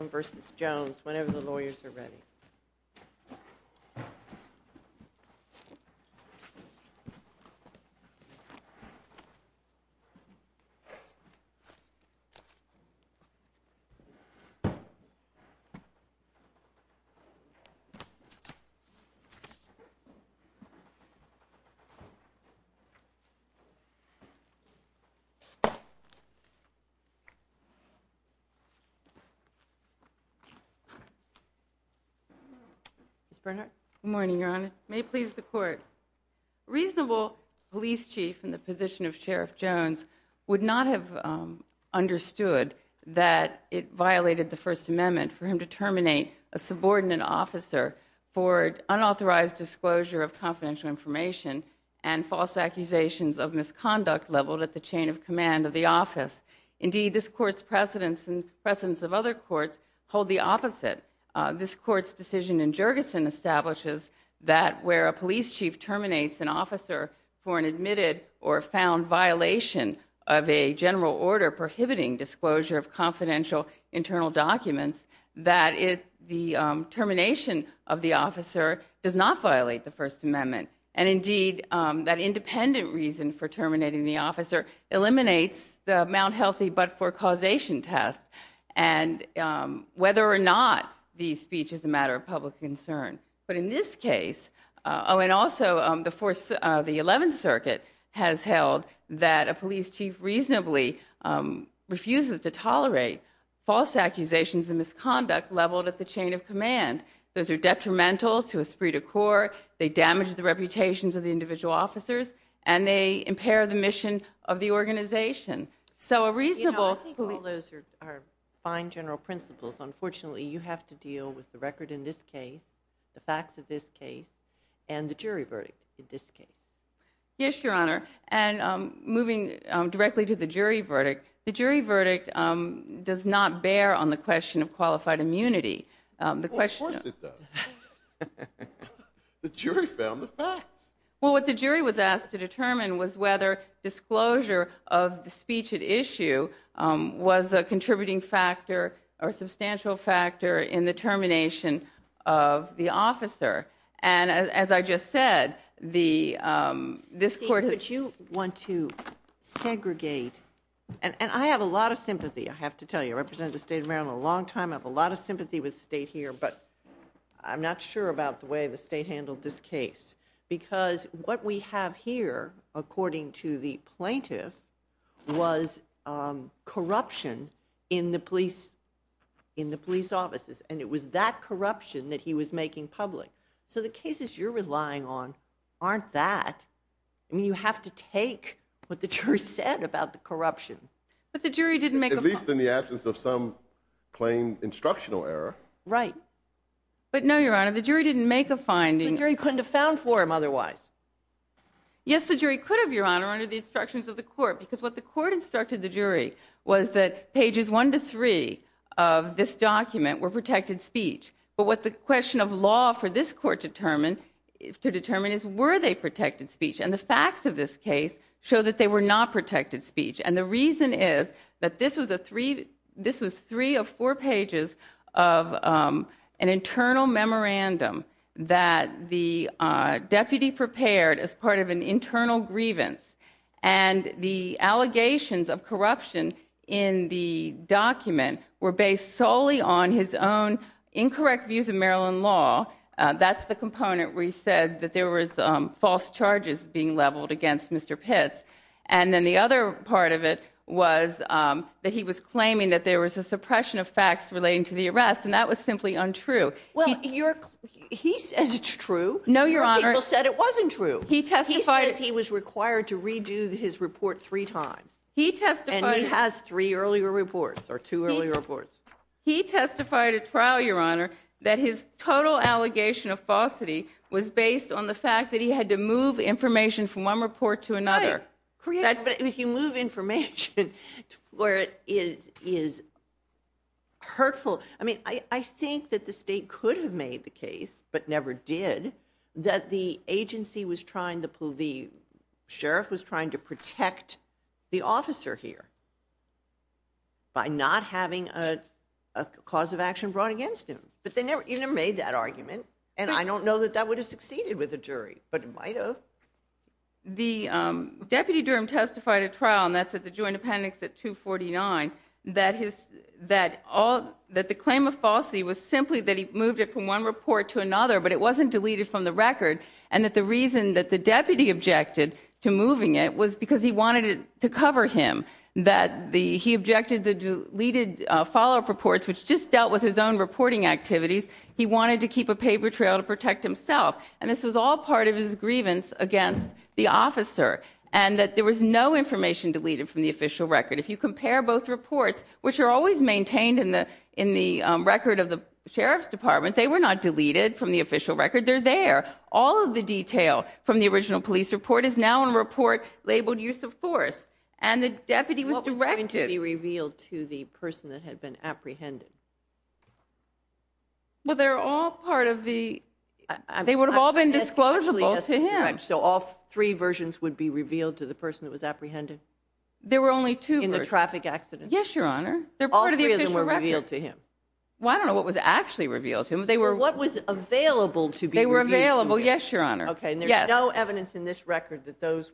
versus Jones whenever the lawyers are ready. Good morning, Your Honor. May it please the Court. Reasonable police chief in the position of Sheriff Jones would not have understood that it violated the First Amendment for him to terminate a subordinate officer for unauthorized disclosure of confidential information and false accusations of misconduct leveled at the chain of command of the office. Indeed, this Court's precedents and precedents of other courts hold the opposite. This Court's decision in Jergensen establishes that where a police chief terminates an officer for an admitted or found violation of a general order prohibiting disclosure of confidential internal documents, that the termination of the officer does not violate the First Amendment. And indeed, that independent reason for terminating the officer eliminates the Mount Healthy but for causation test and whether or not the speech is a matter of public concern. But in this case, oh, and also the 11th Circuit has held that a police chief reasonably refuses to tolerate false accusations of misconduct leveled at the chain of command. Those are detrimental to esprit de corps. They damage the reputations of the individual officers. And they impair the mission of the organization. So a reasonable... You know, I think all those are fine general principles. Unfortunately, you have to deal with the record in this case, the facts of this case, and the jury verdict in this case. Yes, Your Honor. And moving directly to the jury verdict, the jury verdict does not bear on the question of qualified immunity. Well, of course it does. The jury found the facts. Well, what the jury was asked to determine was whether disclosure of the speech at issue was a contributing factor or substantial factor in the termination of the officer. And as I just said, this court has... Steve, but you want to segregate... And I have a lot of sympathy. I have to tell you. I represented the state of Maryland a long time. I have a lot of sympathy with the state here, but I'm not sure about the way the state handled this case. Because what we have here, according to the plaintiff, was corruption in the police offices. And it was that corruption that he was making public. So the cases you're relying on aren't that. I mean, you have to take what the jury said about the corruption. But the jury didn't make a... At least in the absence of some plain instructional error. Right. But no, Your Honor, the jury didn't make a finding. The jury couldn't have found for him otherwise. Yes, the jury could have, Your Honor, under the instructions of the court. Because what the court instructed the jury was that pages one to three of this document were protected speech. But what the question of law for this court determined, to determine, is were they protected speech? And the facts of this case show that they were not protected speech. And the reason is that this was a three... This was three of four pages of an internal memorandum that the deputy prepared as part of an internal grievance. And the allegations of corruption in the document were based solely on his own incorrect views of Maryland law. That's the component where he said that there was false charges being leveled against Mr. Pitts. And then the other part of it was that he was claiming that there was a suppression of facts relating to the arrest, and that was simply untrue. Well, you're... He says it's true. No, Your Honor. A lot of people said it wasn't true. He testified... He said he was required to redo his report three times. He testified... And he has three earlier reports, or two earlier reports. He testified at trial, Your Honor, that his total allegation of falsity was based on the But if you move information to where it is hurtful... I mean, I think that the state could have made the case, but never did, that the agency was trying to... The sheriff was trying to protect the officer here by not having a cause of action brought against him. But they never... He never made that argument. And I don't know that that would have succeeded with a jury, but it might have. The... Deputy Durham testified at trial, and that's at the Joint Appendix at 249, that the claim of falsity was simply that he moved it from one report to another, but it wasn't deleted from the record, and that the reason that the deputy objected to moving it was because he wanted it to cover him, that he objected to deleted follow-up reports, which just dealt with his own reporting activities. He wanted to keep a paper trail to protect himself. And this was all part of his grievance against the officer, and that there was no information deleted from the official record. If you compare both reports, which are always maintained in the record of the sheriff's department, they were not deleted from the official record. They're there. All of the detail from the original police report is now in a report labeled use of force. And the deputy was directed... What was going to be revealed to the person that had been apprehended? Well, they're all part of the... They would have all been disclosable to him. So all three versions would be revealed to the person that was apprehended? There were only two versions. In the traffic accident? Yes, Your Honor. All three of them were revealed to him. Well, I don't know what was actually revealed to him. What was available to be revealed to him? They were available, yes, Your Honor. Okay, and there's no evidence in this record that those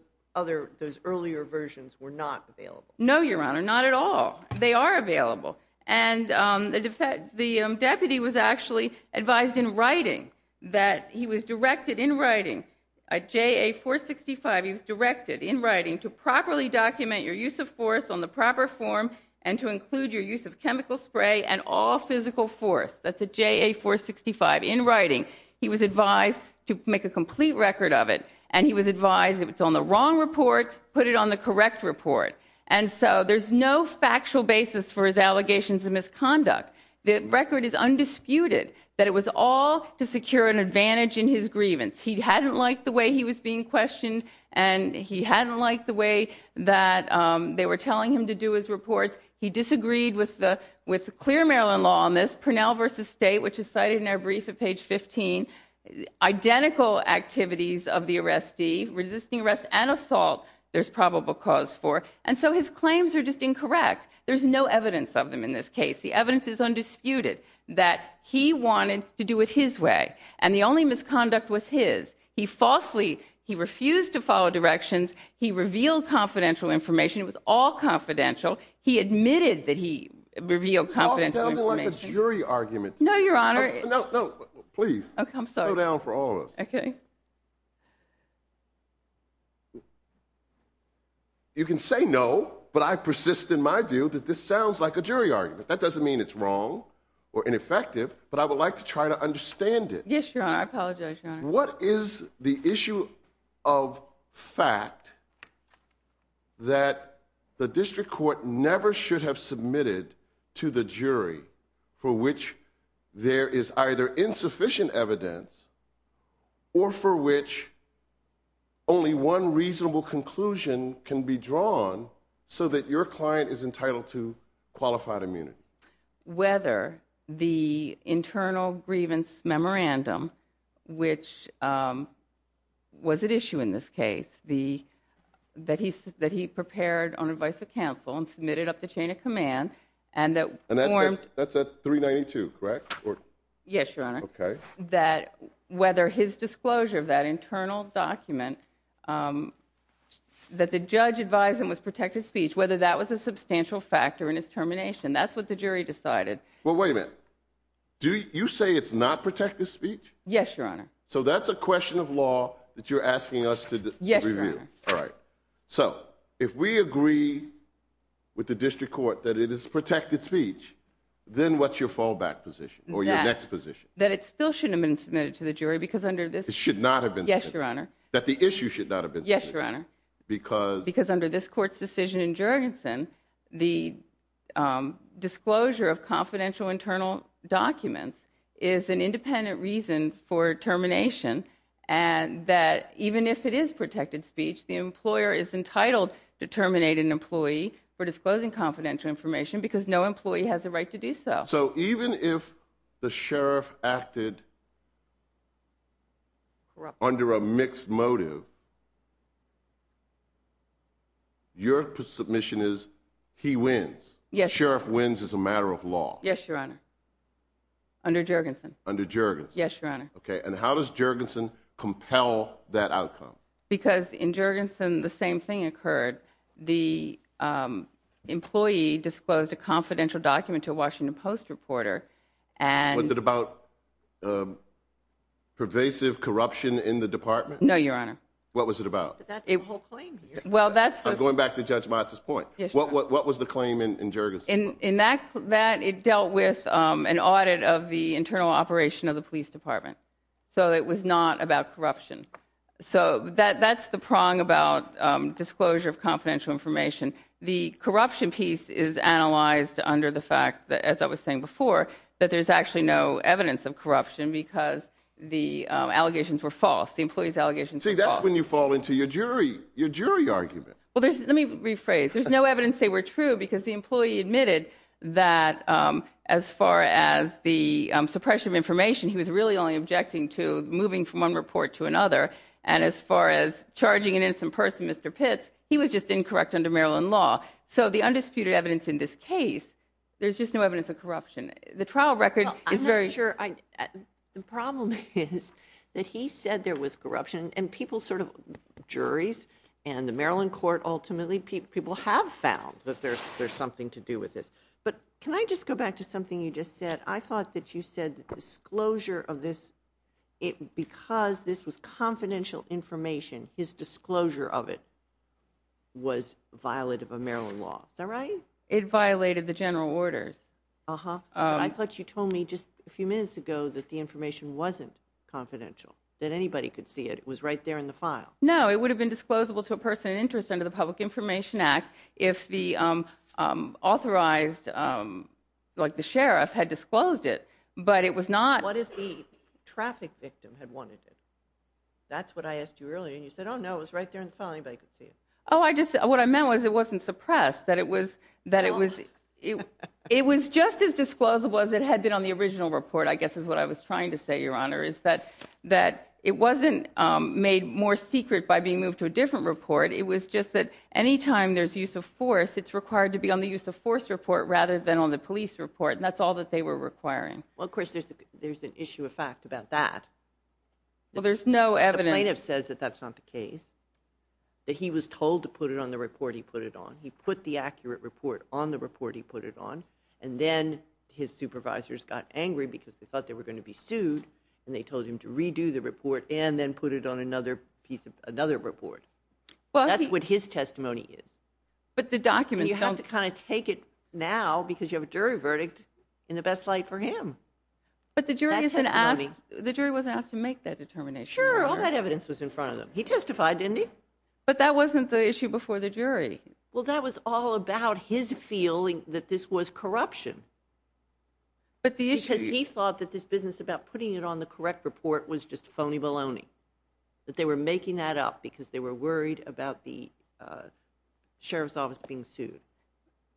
earlier versions were not available? No, Your Honor. Not at all. They are available. And the deputy was actually advised in writing that he was directed in writing, a JA-465, he was directed in writing to properly document your use of force on the proper form and to include your use of chemical spray and all physical force. That's a JA-465 in writing. He was advised to make a complete record of it. And he was advised if it's on the wrong report, put it on the correct report. And so there's no factual basis for his allegations of misconduct. The record is undisputed that it was all to secure an advantage in his grievance. He hadn't liked the way he was being questioned, and he hadn't liked the way that they were telling him to do his reports. He disagreed with the clear Maryland law on this, Parnell v. State, which is cited in our brief at page 15, identical activities of the arrestee, resisting arrest and assault, there's probable cause for. And so his claims are just incorrect. There's no evidence of them in this case. The evidence is undisputed that he wanted to do it his way, and the only misconduct was his. He falsely, he refused to follow directions. He revealed confidential information. It was all confidential. He admitted that he revealed confidential information. It all sounded like a jury argument. No, Your Honor. No, no. Please. I'm sorry. Slow down for all of us. Okay. You can say no, but I persist in my view that this sounds like a jury argument. That doesn't mean it's wrong or ineffective, but I would like to try to understand it. Yes, Your Honor. I apologize, Your Honor. What is the issue of fact that the district court never should have submitted to the jury for which there is either insufficient evidence or for which only one reasonable conclusion can be drawn so that your client is entitled to qualified immunity? Whether the internal grievance memorandum, which was at issue in this case, that he prepared on advice of counsel and submitted up the chain of command and that formed... That's at 392, correct? Yes, Your Honor. Okay. That whether his disclosure of that internal document, that the judge advised him it was protected speech, whether that was a substantial factor in his termination, that's what the jury decided. Well, wait a minute. You say it's not protected speech? Yes, Your Honor. So that's a question of law that you're asking us to review. Yes, Your Honor. All right. So if we agree with the district court that it is protected speech, then what's your fallback position or your next position? That it still shouldn't have been submitted to the jury because under this... It should not have been submitted. Yes, Your Honor. That the issue should not have been submitted. Yes, Your Honor. Because... Because under this court's decision in Jurgensen, the disclosure of confidential internal documents is an independent reason for termination and that even if it is protected speech, the employer is entitled to terminate an employee for disclosing confidential information because no employee has the right to do so. So even if the sheriff acted under a mixed motive, your submission is he wins. Yes. Sheriff wins as a matter of law. Yes, Your Honor. Under Jurgensen. Under Jurgensen. Yes, Your Honor. Okay. And how does Jurgensen compel that outcome? Because in Jurgensen, the same thing occurred. The employee disclosed a confidential document to a Washington Post reporter and... Was it about pervasive corruption in the department? No, Your Honor. What was it about? But that's the whole claim here. Well, that's... I'm going back to Judge Motz's point. Yes, Your Honor. What was the claim in Jurgensen? In that, it dealt with an audit of the internal operation of the police department. So it was not about corruption. So that's the prong about disclosure of confidential information. The corruption piece is analyzed under the fact that, as I was saying before, that there's actually no evidence of corruption because the allegations were false. The employee's allegations were false. See, that's when you fall into your jury argument. Well, let me rephrase. There's no evidence they were true because the employee admitted that as far as the suppression of information, he was really only objecting to moving from one report to another. And as far as charging an innocent person, Mr. Pitts, he was just incorrect under Maryland law. So the undisputed evidence in this case, there's just no evidence of corruption. The trial record is very... Well, I'm not sure I... The problem is that he said there was corruption and people sort of, juries and the Maryland court ultimately, people have found that there's something to do with this. But can I just go back to something you just said? I thought that you said that the disclosure of this, because this was confidential information, his disclosure of it was violative of Maryland law. Is that right? It violated the general orders. Uh-huh. I thought you told me just a few minutes ago that the information wasn't confidential, that anybody could see it. It was right there in the file. No, it would have been disclosable to a person of interest under the Public Information Act if the authorized, like the sheriff, had disclosed it. But it was not... What if the traffic victim had wanted it? That's what I asked you earlier. And you said, oh, no, it was right there in the file, anybody could see it. Oh, I just... What I meant was it wasn't suppressed, that it was... It was just as disclosable as it had been on the original report, I guess is what I was trying to say, Your Honor, is that it wasn't made more secret by being moved to a different report. It was just that any time there's use of force, it's required to be on the use of force report rather than on the police report, and that's all that they were requiring. Well, of course, there's an issue of fact about that. Well, there's no evidence... The plaintiff says that that's not the case, that he was told to put it on the report he put it on. He put the accurate report on the report he put it on, and then his supervisors got angry because they thought they were going to be sued, and they told him to redo the report and then put it on another piece of... Another report. Well, he... That's what his testimony is. But the documents don't... And you have to kind of take it now because you have a jury verdict in the best light for him. But the jury isn't asked... That testimony... The jury wasn't asked to make that determination. Sure. All that evidence was in front of them. He testified, didn't he? But that wasn't the issue before the jury. Well, that was all about his feeling that this was corruption. But the issue... Because he thought that this business about putting it on the correct report was just bologna, bologna, bologna, that they were making that up because they were worried about the sheriff's office being sued.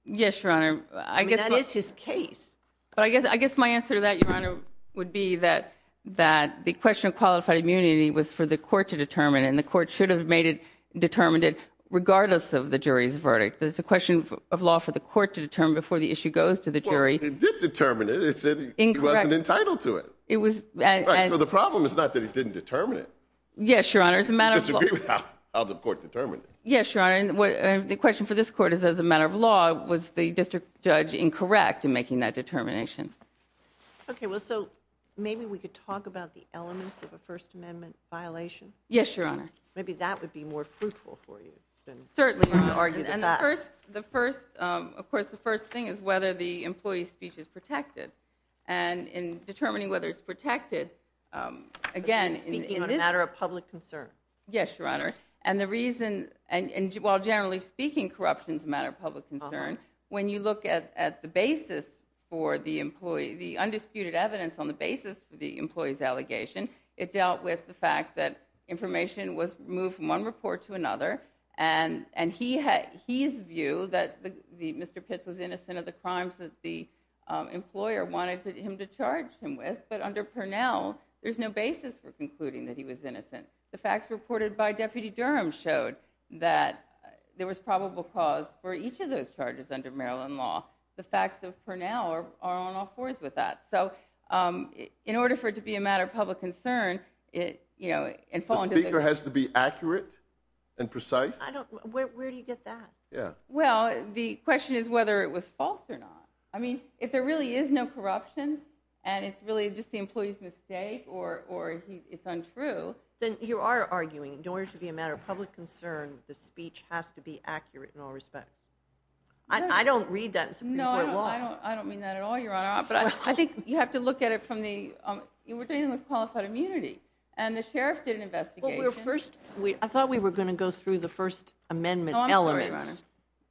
Yes, Your Honor. I guess... I mean, that is his case. But I guess my answer to that, Your Honor, would be that the question of qualified immunity was for the court to determine, and the court should have made it, determined it, regardless of the jury's verdict. That it's a question of law for the court to determine before the issue goes to the jury. Well, it did determine it. It said he wasn't entitled to it. It was... Right. So the problem is not that he didn't determine it. Yes, Your Honor. It's a matter of law. He disagreed with how the court determined it. Yes, Your Honor. And the question for this court is, as a matter of law, was the district judge incorrect in making that determination? Okay. Well, so maybe we could talk about the elements of a First Amendment violation. Yes, Your Honor. Maybe that would be more fruitful for you than... Certainly. ...argue the facts. And the first... Of course, the first thing is whether the employee's speech is protected. And in determining whether it's protected, again, in this... But he's speaking on a matter of public concern. Yes, Your Honor. And the reason... And while generally speaking, corruption is a matter of public concern, when you look at the basis for the employee, the undisputed evidence on the basis for the employee's allegation, it dealt with the fact that information was moved from one report to another, and he had... Mr. Pitts was innocent of the crimes that the employer wanted him to charge him with, but under Purnell, there's no basis for concluding that he was innocent. The facts reported by Deputy Durham showed that there was probable cause for each of those charges under Maryland law. The facts of Purnell are on all fours with that. So, in order for it to be a matter of public concern, it... The speaker has to be accurate and precise? I don't... Where do you get that? Yeah. Well, the question is whether it was false or not. I mean, if there really is no corruption, and it's really just the employee's mistake or it's untrue... Then you are arguing, in order to be a matter of public concern, the speech has to be accurate in all respects. I don't read that in Supreme Court law. No, I don't mean that at all, Your Honor. But I think you have to look at it from the... You were dealing with qualified immunity, and the sheriff did an investigation... Well, we were first... I thought we were going to go through the First Amendment element. I'm sorry,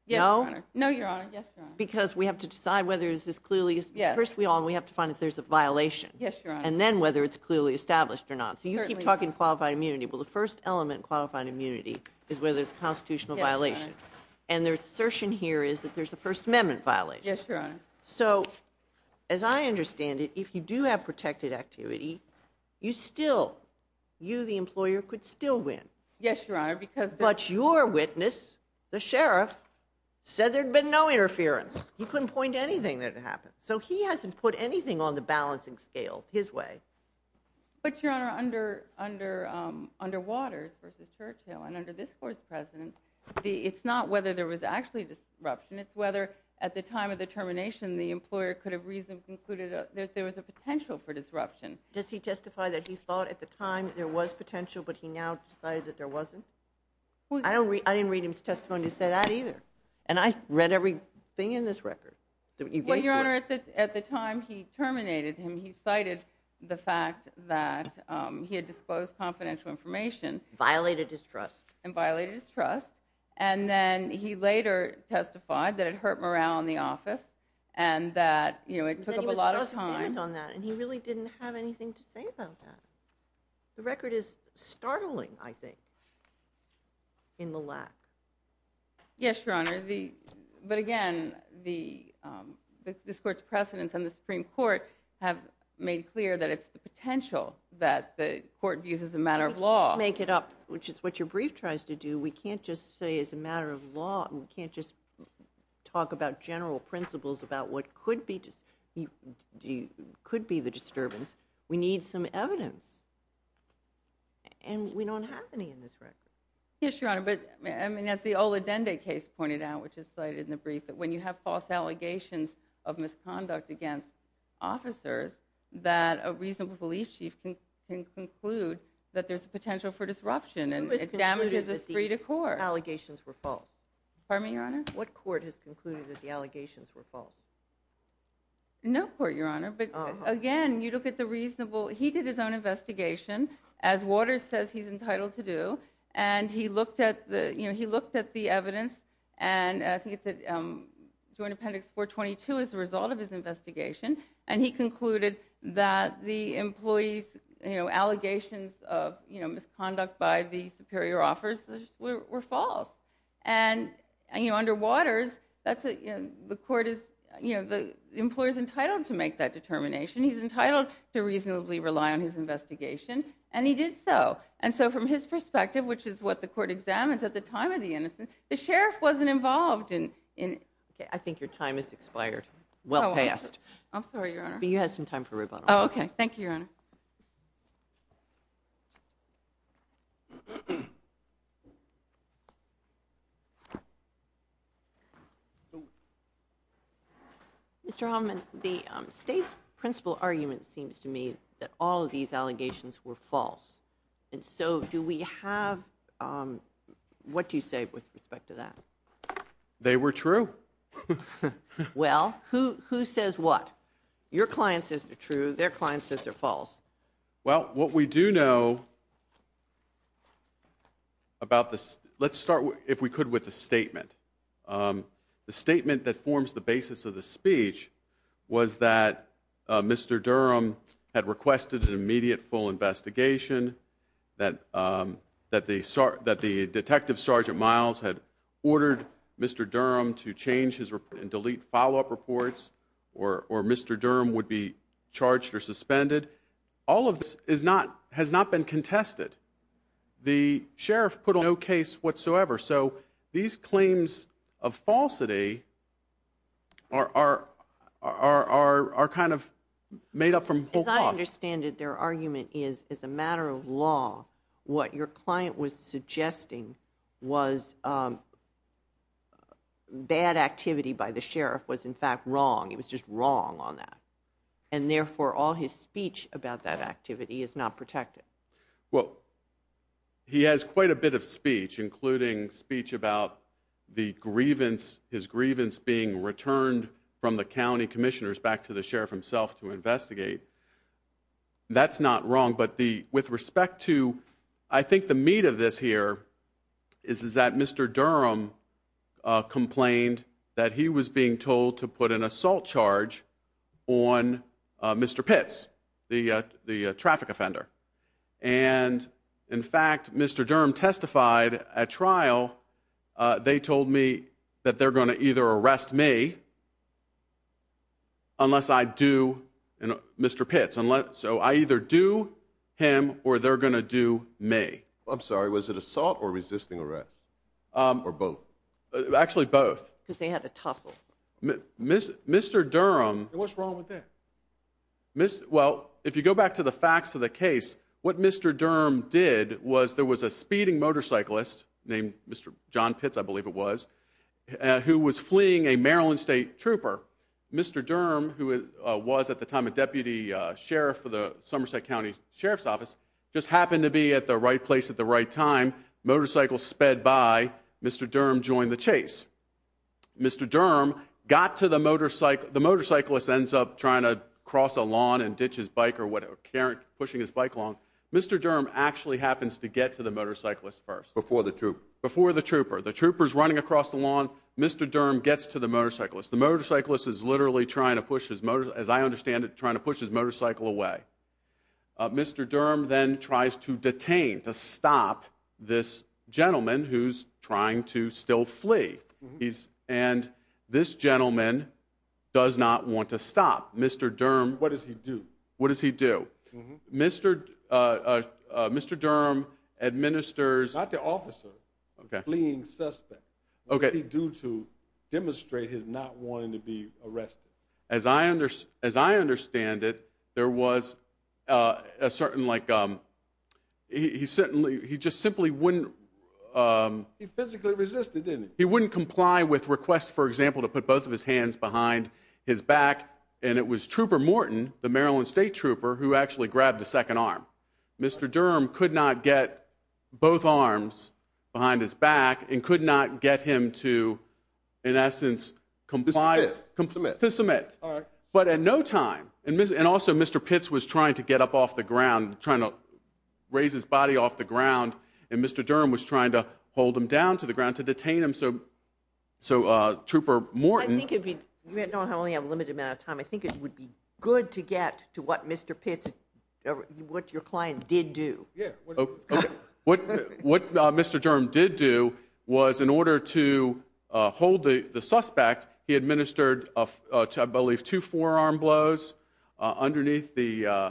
Your Honor. No? No, Your Honor. Yes, Your Honor. Because we have to decide whether this is clearly... Yes. First of all, we have to find if there's a violation. Yes, Your Honor. And then whether it's clearly established or not. Certainly. So you keep talking qualified immunity. Well, the first element in qualified immunity is whether there's a constitutional violation. Yes, Your Honor. And the assertion here is that there's a First Amendment violation. Yes, Your Honor. So, as I understand it, if you do have protected activity, you still... You, the employer, could still win. Yes, Your Honor, because... But your witness, the sheriff, said there'd been no interference. He couldn't point to anything that had happened. So he hasn't put anything on the balancing scale his way. But, Your Honor, under Waters v. Churchill and under this Court's president, it's not whether there was actually disruption. It's whether, at the time of the termination, the employer could have reasonably concluded that there was a potential for disruption. Does he testify that he thought at the time there was potential, but he now decided that there wasn't? I didn't read his testimony to say that either. And I read everything in this record. Well, Your Honor, at the time he terminated him, he cited the fact that he had disclosed confidential information. Violated his trust. And violated his trust. And then he later testified that it hurt morale in the office and that, you know, it took up a lot of time. And he really didn't have anything to say about that. The record is startling, I think. In the lack. Yes, Your Honor. But again, this Court's precedents and the Supreme Court have made clear that it's the potential that the Court views as a matter of law. We can't make it up, which is what your brief tries to do. We can't just say it's a matter of law. We can't just talk about general principles about what could be the disturbance. We need some evidence. And we don't have any in this record. Yes, Your Honor. But, I mean, as the Ola Dende case pointed out, which is cited in the brief, that when you have false allegations of misconduct against officers, that a reasonable belief chief can conclude that there's a potential for disruption and it damages his free decor. Who has concluded that the allegations were false? Pardon me, Your Honor? What court has concluded that the allegations were false? No court, Your Honor. But again, you look at the reasonable... He did his own investigation, as Waters says he's entitled to do, and he looked at the evidence, and I think it's the Joint Appendix 422, as a result of his investigation, and he concluded that the employees' allegations of misconduct by the superior officers were false. And under Waters, the court is... The employer's entitled to make that determination. He's entitled to reasonably rely on his investigation, and he did so. And so, from his perspective, which is what the court examines at the time of the innocence, the sheriff wasn't involved in... Okay, I think your time has expired. Well past. I'm sorry, Your Honor. But you had some time for rebuttal. Oh, okay. Thank you, Your Honor. Mr. Hoffman, the state's principal argument seems to me that all of these allegations were false. And so, do we have... What do you say with respect to that? They were true. Well, who says what? Your client says they're true. Their client says they're false. Well, what we do know about this... Let's start, if we could, with a statement. The statement that forms the basis of the speech was that Mr. Durham had requested an immediate full investigation, that the Detective Sergeant Miles had ordered Mr. Durham to change his report and delete follow-up reports, or Mr. Durham would be charged or suspended. All of this has not been contested. The sheriff put on no case whatsoever. So these claims of falsity are kind of made up from whole cloth. As I understand it, their argument is, as a matter of law, It was just wrong on that. And therefore, all his speech about that activity is not protected. Well, he has quite a bit of speech, including speech about the grievance, his grievance being returned from the county commissioners back to the sheriff himself to investigate. That's not wrong. But with respect to... I think the meat of this here is that Mr. Durham complained that he was being told to put an assault charge on Mr. Pitts, the traffic offender. And, in fact, Mr. Durham testified at trial, they told me that they're going to either arrest me unless I do Mr. Pitts. So I either do him or they're going to do me. I'm sorry, was it assault or resisting arrest, or both? Actually both. Because they had to tussle. Mr. Durham... What's wrong with that? Well, if you go back to the facts of the case, what Mr. Durham did was there was a speeding motorcyclist named John Pitts, I believe it was, who was fleeing a Maryland state trooper. Mr. Durham, who was at the time a deputy sheriff for the Somerset County Sheriff's Office, just happened to be at the right place at the right time. Motorcycle sped by. Mr. Durham joined the chase. Mr. Durham got to the motorcycle. The motorcyclist ends up trying to cross a lawn and ditch his bike or whatever, pushing his bike along. Mr. Durham actually happens to get to the motorcyclist first. Before the trooper. Before the trooper. The trooper's running across the lawn. Mr. Durham gets to the motorcyclist. The motorcyclist is literally trying to push his motorcycle, as I understand it, trying to push his motorcycle away. Mr. Durham then tries to detain, to stop, this gentleman who's trying to still flee. And this gentleman does not want to stop. Mr. Durham. What does he do? What does he do? Mr. Durham administers. Not the officer. Okay. Fleeing suspect. Okay. What does he do to demonstrate his not wanting to be arrested? As I understand it, there was a certain like, he certainly, he just simply wouldn't. He physically resisted, didn't he? He wouldn't comply with requests, for example, to put both of his hands behind his back. And it was Trooper Morton, the Maryland State Trooper, who actually grabbed the second arm. Mr. Durham could not get both arms behind his back and could not get him to, in essence, comply. But at no time, and also Mr. Pitts was trying to get up off the ground, trying to raise his body off the ground, and Mr. Durham was trying to hold him down to the ground to detain him. So Trooper Morton. I think it would be good to get to what Mr. Pitts, what your client did do. Yeah. Okay. What Mr. Durham did do was in order to hold the suspect, he administered, I believe, two forearm blows underneath the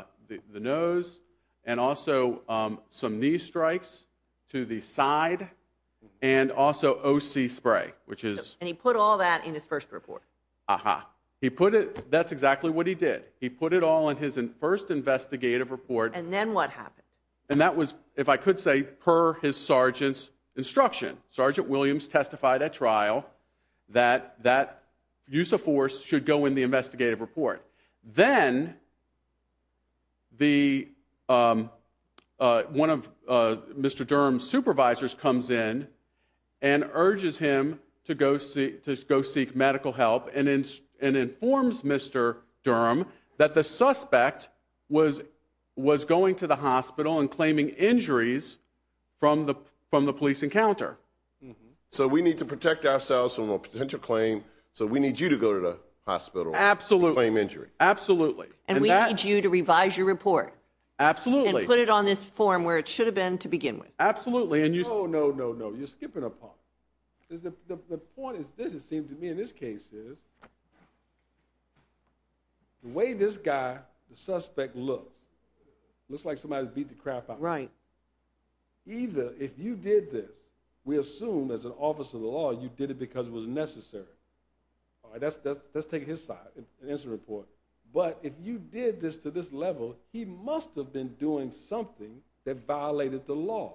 nose and also some knee strikes to the side and also O.C. spray, which is. And he put all that in his first report. Uh-huh. He put it, that's exactly what he did. He put it all in his first investigative report. And then what happened? And that was, if I could say, per his sergeant's instruction. Sergeant Williams testified at trial that that use of force should go in the investigative report. Then one of Mr. Durham's supervisors comes in and urges him to go seek medical help and informs Mr. Durham that the suspect was going to the hospital and claiming injuries from the police encounter. So we need to protect ourselves from a potential claim. So we need you to go to the hospital. Absolutely. And claim injury. Absolutely. And we need you to revise your report. Absolutely. And put it on this form where it should have been to begin with. Absolutely. Oh, no, no, no. You're skipping a part. The point is this, it seems to me, in this case, is the way this guy, the suspect, looks, looks like somebody beat the crap out of him. Right. Either if you did this, we assume as an officer of the law you did it because it was necessary. All right, let's take it his side, an incident report. But if you did this to this level, he must have been doing something that violated the law,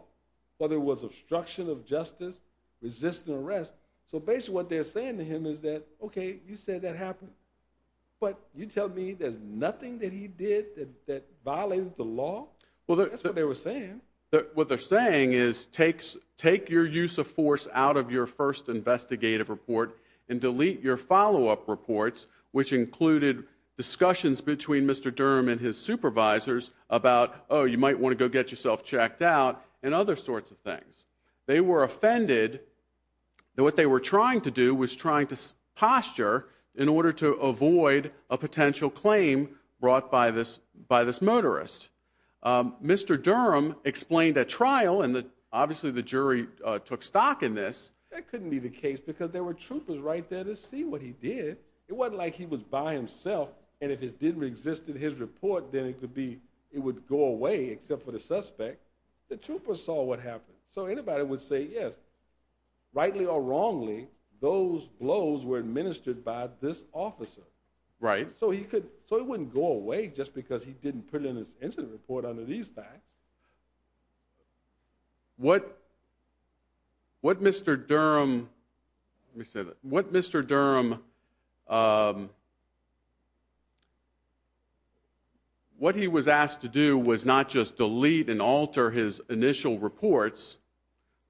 whether it was obstruction of justice, resisting arrest. So basically what they're saying to him is that, okay, you said that happened. But you tell me there's nothing that he did that violated the law? That's what they were saying. What they're saying is take your use of force out of your first investigative report and delete your follow-up reports, which included discussions between Mr. Durham and his supervisors about, oh, you might want to go get yourself checked out and other sorts of things. They were offended that what they were trying to do was trying to posture in order to avoid a potential claim brought by this motorist. Mr. Durham explained at trial, and obviously the jury took stock in this, that couldn't be the case because there were troopers right there to see what he did. It wasn't like he was by himself, and if it didn't exist in his report, then it would go away except for the suspect. The troopers saw what happened. So anybody would say, yes, rightly or wrongly, those blows were administered by this officer. So he wouldn't go away just because he didn't put it in his incident report under these facts. What Mr. Durham... Let me say that. What Mr. Durham... What he was asked to do was not just delete and alter his initial reports,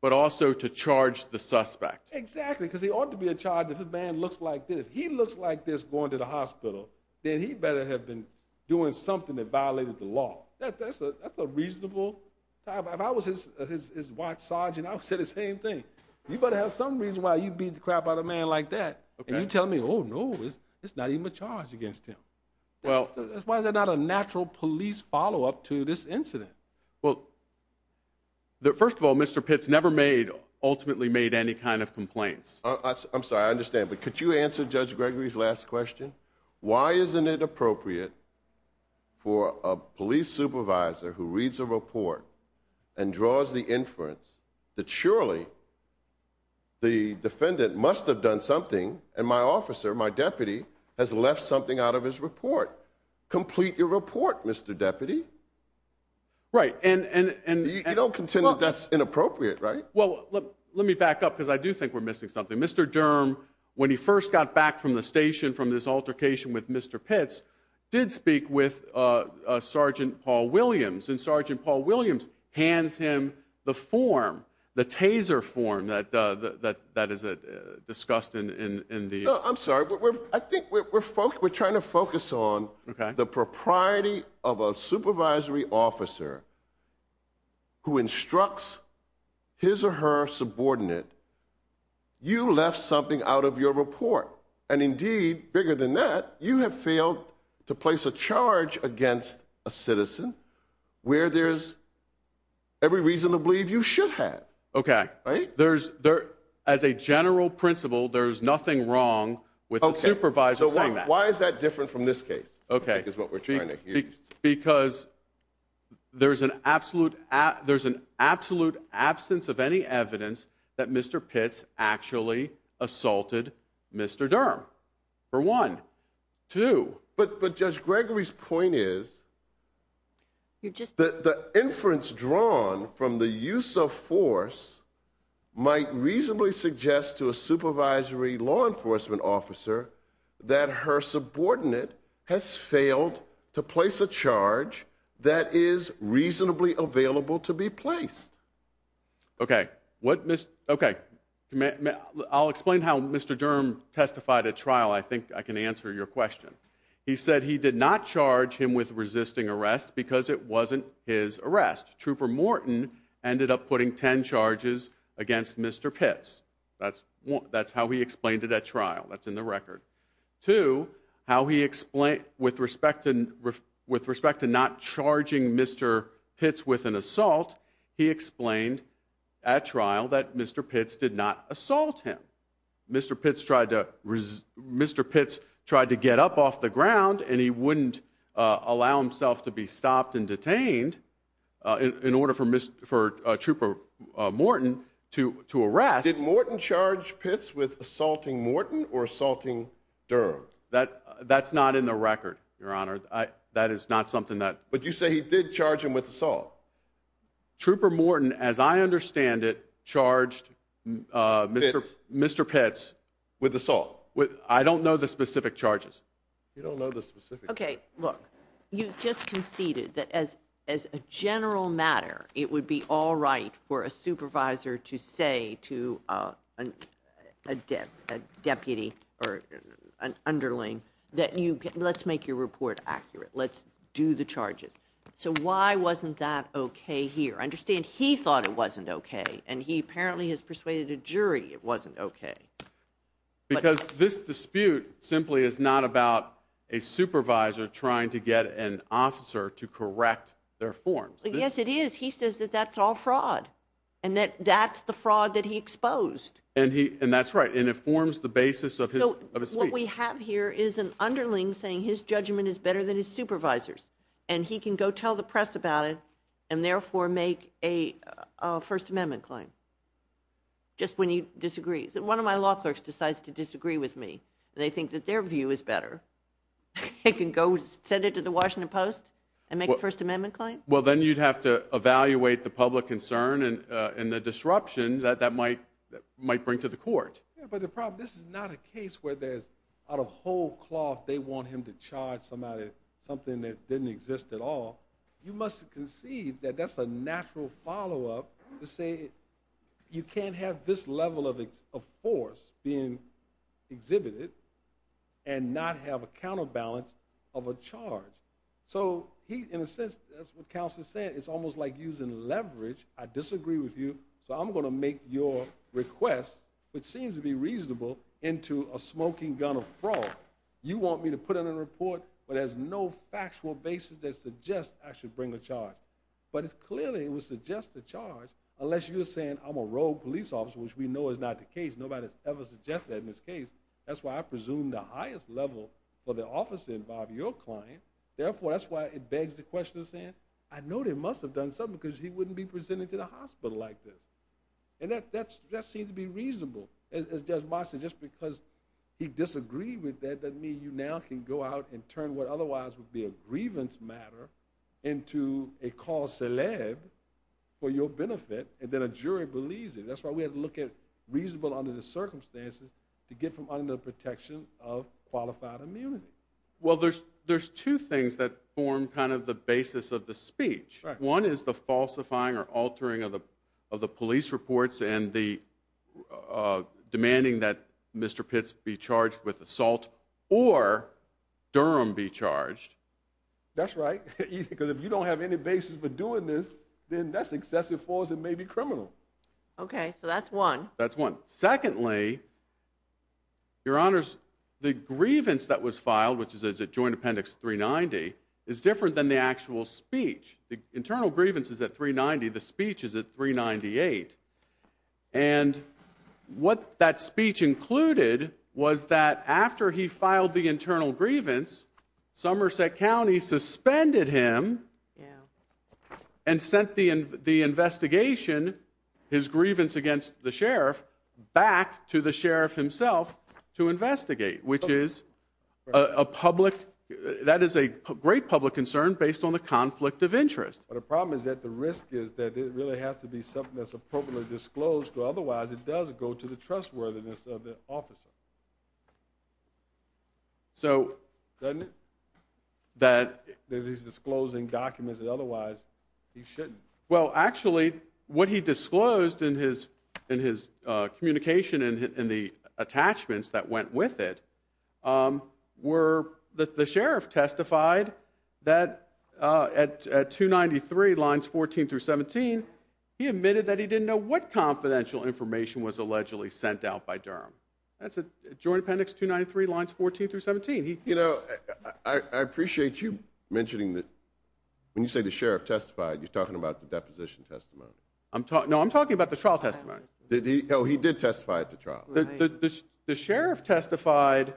but also to charge the suspect. Exactly, because he ought to be charged if a man looks like this. If he looks like this going to the hospital, then he better have been doing something that violated the law. That's a reasonable... If I was his watch sergeant, I would say the same thing. You better have some reason why you beat the crap out of a man like that, and you're telling me, oh, no, it's not even a charge against him. Why is there not a natural police follow-up to this incident? Well, first of all, Mr. Pitts never ultimately made any kind of complaints. I'm sorry, I understand, but could you answer Judge Gregory's last question? Why isn't it appropriate for a police supervisor who reads a report and draws the inference that surely the defendant must have done something and my officer, my deputy, has left something out of his report? Complete your report, Mr. Deputy. Right, and... You don't contend that that's inappropriate, right? Well, let me back up, because I do think we're missing something. Mr. Durham, when he first got back from the station from this altercation with Mr. Pitts, did speak with Sergeant Paul Williams, and Sergeant Paul Williams hands him the form, the taser form that is discussed in the... No, I'm sorry. I think we're trying to focus on the propriety of a supervisory officer who instructs his or her subordinate, you left something out of your report. And indeed, bigger than that, you have failed to place a charge against a citizen where there's every reason to believe you should have. Okay, there's... As a general principle, there's nothing wrong with a supervisor saying that. Okay, so why is that different from this case, I think is what we're trying to hear. Because there's an absolute... There's an absolute absence of any evidence that Mr. Pitts actually assaulted Mr. Durham, for one. Two... But Judge Gregory's point is that the inference drawn from the use of force might reasonably suggest to a supervisory law enforcement officer that her subordinate has failed to place a charge that is reasonably available to be placed. Okay, what... Okay. I'll explain how Mr. Durham testified at trial. I think I can answer your question. He said he did not charge him with resisting arrest because it wasn't his arrest. Trooper Morton ended up putting ten charges against Mr. Pitts. That's how he explained it at trial. That's in the record. Two, how he explained... With respect to not charging Mr. Pitts with an assault, he explained at trial that Mr. Pitts did not assault him. Mr. Pitts tried to... Mr. Pitts tried to get up off the ground and he wouldn't allow himself to be stopped and detained in order for Trooper Morton to arrest. Did Morton charge Pitts with assaulting Morton or assaulting Durham? That's not in the record, Your Honor. That is not something that... But you say he did charge him with assault. Trooper Morton, as I understand it, charged Mr. Pitts... With assault. I don't know the specific charges. You don't know the specific charges. Okay, look, you just conceded that as a general matter it would be all right for a supervisor to say to a deputy or an underling that let's make your report accurate, let's do the charges. So why wasn't that okay here? I understand he thought it wasn't okay and he apparently has persuaded a jury it wasn't okay. Because this dispute simply is not about a supervisor trying to get an officer to correct their forms. Yes, it is. He says that that's all fraud and that that's the fraud that he exposed. And that's right, and it forms the basis of his speech. So what we have here is an underling saying his judgment is better than his supervisor's and he can go tell the press about it and therefore make a First Amendment claim just when he disagrees. One of my law clerks decides to disagree with me. They think that their view is better. They can go send it to the Washington Post and make a First Amendment claim? Well, then you'd have to evaluate the public concern and the disruption that that might bring to the court. But the problem, this is not a case where there's out of whole cloth they want him to charge somebody something that didn't exist at all. You must concede that that's a natural follow-up to say you can't have this level of force being exhibited and not have a counterbalance of a charge. In a sense, that's what Counselor said. It's almost like using leverage. I disagree with you, so I'm going to make your request, which seems to be reasonable, into a smoking gun of fraud. You want me to put in a report where there's no factual basis that suggests I should bring a charge. But clearly it would suggest a charge unless you were saying I'm a rogue police officer, which we know is not the case. Nobody has ever suggested that in this case. That's why I presume the highest level for the officer involved, your client, therefore that's why it begs the question of saying I know they must have done something because he wouldn't be presented to the hospital like this. And that seems to be reasonable. As Judge Moss said, just because he disagreed with that doesn't mean you now can go out and turn what otherwise would be a grievance matter into a cause célèbre for your benefit, and then a jury believes it. That's why we have to look at reasonable under the circumstances to get from under the protection of qualified immunity. Well, there's two things that form kind of the basis of the speech. One is the falsifying or altering of the police reports and the demanding that Mr. Pitts be charged with assault or Durham be charged. That's right, because if you don't have any basis for doing this, then that's excessive force and may be criminal. Okay, so that's one. That's one. Secondly, your honors, the grievance that was filed, which is at Joint Appendix 390, is different than the actual speech. The internal grievance is at 390. The speech is at 398. And what that speech included was that after he filed the internal grievance, Somerset County suspended him and sent the investigation, his grievance against the sheriff, back to the sheriff himself to investigate, which is a great public concern based on the conflict of interest. But the problem is that the risk is that it really has to be something that's appropriately disclosed, because otherwise it does go to the trustworthiness of the officer. Doesn't it? That he's disclosing documents that otherwise he shouldn't. Well, actually, what he disclosed in his communication and the attachments that went with it were that the sheriff testified that at 293, lines 14 through 17, he admitted that he didn't know what confidential information was allegedly sent out by Durham. That's at Joint Appendix 293, lines 14 through 17. You know, I appreciate you mentioning that when you say the sheriff testified, you're talking about the deposition testimony. No, I'm talking about the trial testimony. Oh, he did testify at the trial. The sheriff testified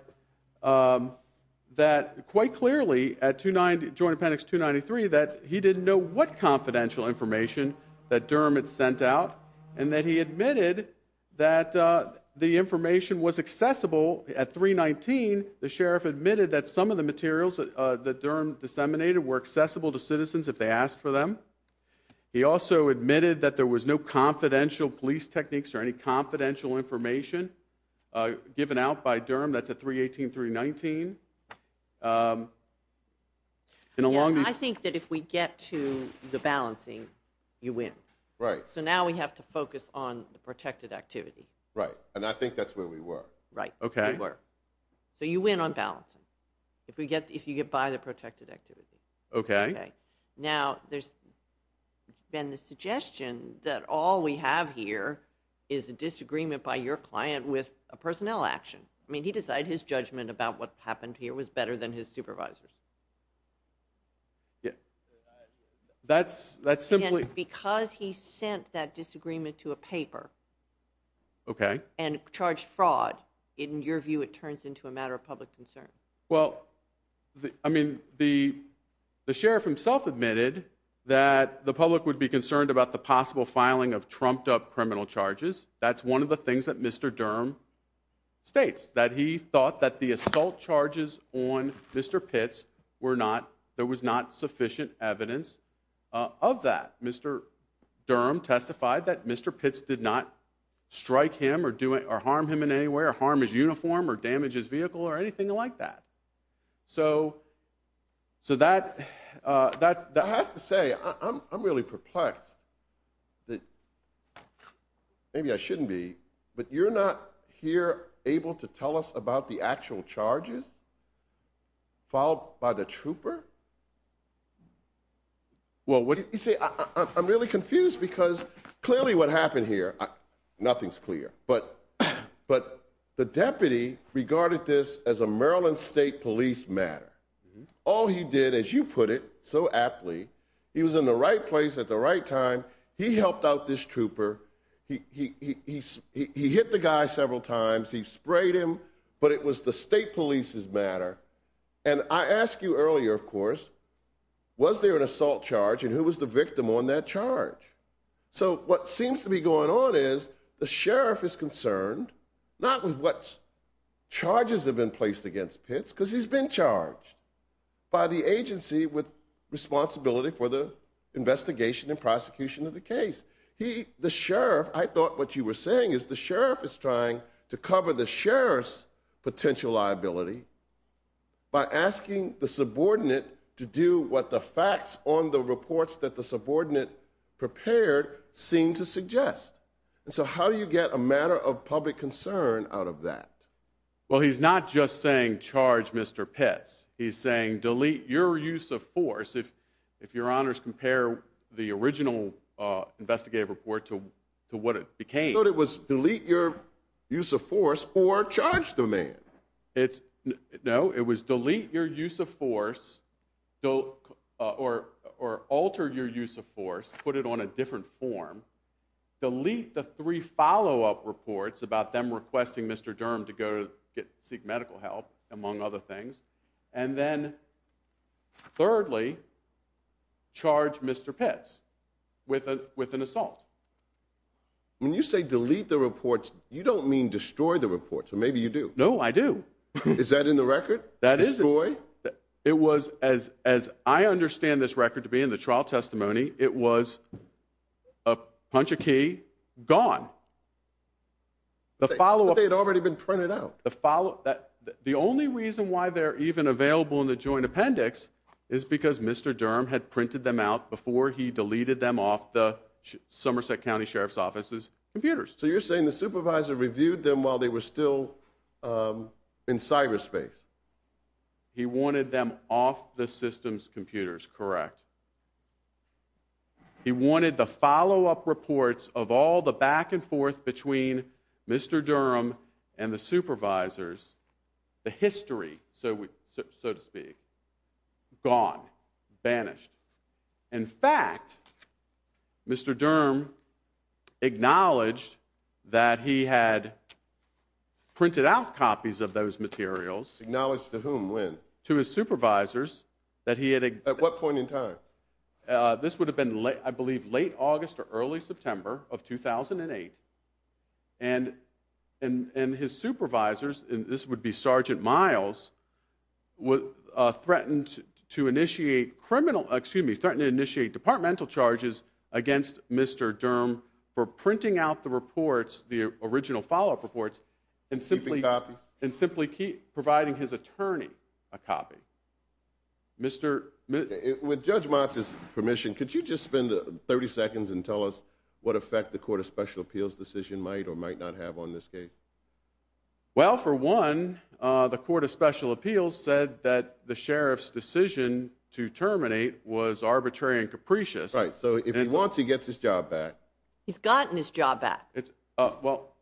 quite clearly at Joint Appendix 293 that he didn't know what confidential information that Durham had sent out and that he admitted that the information was accessible at 319. The sheriff admitted that some of the materials that Durham disseminated were accessible to citizens if they asked for them. He also admitted that there was no confidential police techniques or any confidential information given out by Durham. That's at 318, 319. I think that if we get to the balancing, you win. Right. So now we have to focus on the protected activity. Right, and I think that's where we were. Right, we were. So you win on balancing if you get by the protected activity. Okay. Now, there's been the suggestion that all we have here is a disagreement by your client with a personnel action. I mean, he decided his judgment about what happened here was better than his supervisor's. Again, because he sent that disagreement to a paper and charged fraud, in your view it turns into a matter of public concern. Well, I mean, the sheriff himself admitted that the public would be concerned about the possible filing of trumped-up criminal charges. That's one of the things that Mr. Durham states, that he thought that the assault charges on Mr. Pitts were not – there was not sufficient evidence of that. Mr. Durham testified that Mr. Pitts did not strike him or harm him in any way or harm his uniform or damage his vehicle or anything like that. So that – I have to say, I'm really perplexed that – maybe I shouldn't be, but you're not here able to tell us about the actual charges filed by the trooper? Well, what – You see, I'm really confused because clearly what happened here, nothing's clear, but the deputy regarded this as a Maryland State Police matter. All he did, as you put it so aptly, he was in the right place at the right time, he helped out this trooper, he hit the guy several times, he sprayed him, but it was the State Police's matter. And I asked you earlier, of course, was there an assault charge and who was the victim on that charge? So what seems to be going on is the sheriff is concerned, not with what charges have been placed against Pitts, because he's been charged by the agency with responsibility for the investigation and prosecution of the case. He – the sheriff – I thought what you were saying is the sheriff is trying to cover the sheriff's potential liability by asking the subordinate to do what the facts on the reports that the subordinate prepared seem to suggest. And so how do you get a matter of public concern out of that? Well, he's not just saying charge Mr. Pitts. He's saying delete your use of force. If your honors compare the original investigative report to what it became – I thought it was delete your use of force or charge the man. It's – no, it was delete your use of force or alter your use of force, put it on a different form, delete the three follow-up reports about them requesting Mr. Durham to go seek medical help, among other things, and then thirdly, charge Mr. Pitts with an assault. When you say delete the reports, you don't mean destroy the reports, or maybe you do. No, I do. Is that in the record? Destroy? It was – as I understand this record to be in the trial testimony, it was a punch a key, gone. But they had already been printed out. The only reason why they're even available in the joint appendix is because Mr. Durham had printed them out before he deleted them off the Somerset County Sheriff's Office's computers. So you're saying the supervisor reviewed them while they were still in cyberspace? He wanted them off the system's computers, correct. He wanted the follow-up reports of all the back and forth between Mr. Durham and the supervisors, the history, so to speak, gone, banished. In fact, Mr. Durham acknowledged that he had printed out copies of those materials. Acknowledged to whom? When? To his supervisors that he had – At what point in time? This would have been, I believe, late August or early September of 2008, and his supervisors, and this would be Sergeant Miles, threatened to initiate departmental charges against Mr. Durham for printing out the reports, the original follow-up reports, and simply providing his attorney a copy. With Judge Motz's permission, could you just spend 30 seconds and tell us what effect the Court of Special Appeals decision might or might not have on this case? Well, for one, the Court of Special Appeals said that the sheriff's decision to terminate was arbitrary and capricious. Right, so if he wants, he gets his job back. He's gotten his job back. Well,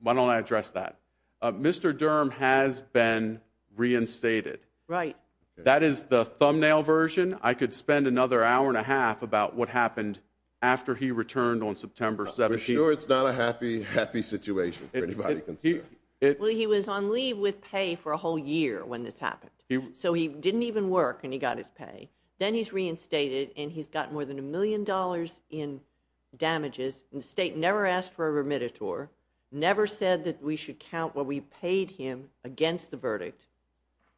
why don't I address that? Mr. Durham has been reinstated. Right. That is the thumbnail version. I could spend another hour and a half about what happened after he returned on September 17th. I'm sure it's not a happy, happy situation for anybody to consider. Well, he was on leave with pay for a whole year when this happened. So he didn't even work, and he got his pay. Then he's reinstated, and he's gotten more than a million dollars in damages. The state never asked for a remittitor, never said that we should count what we paid him against the verdict.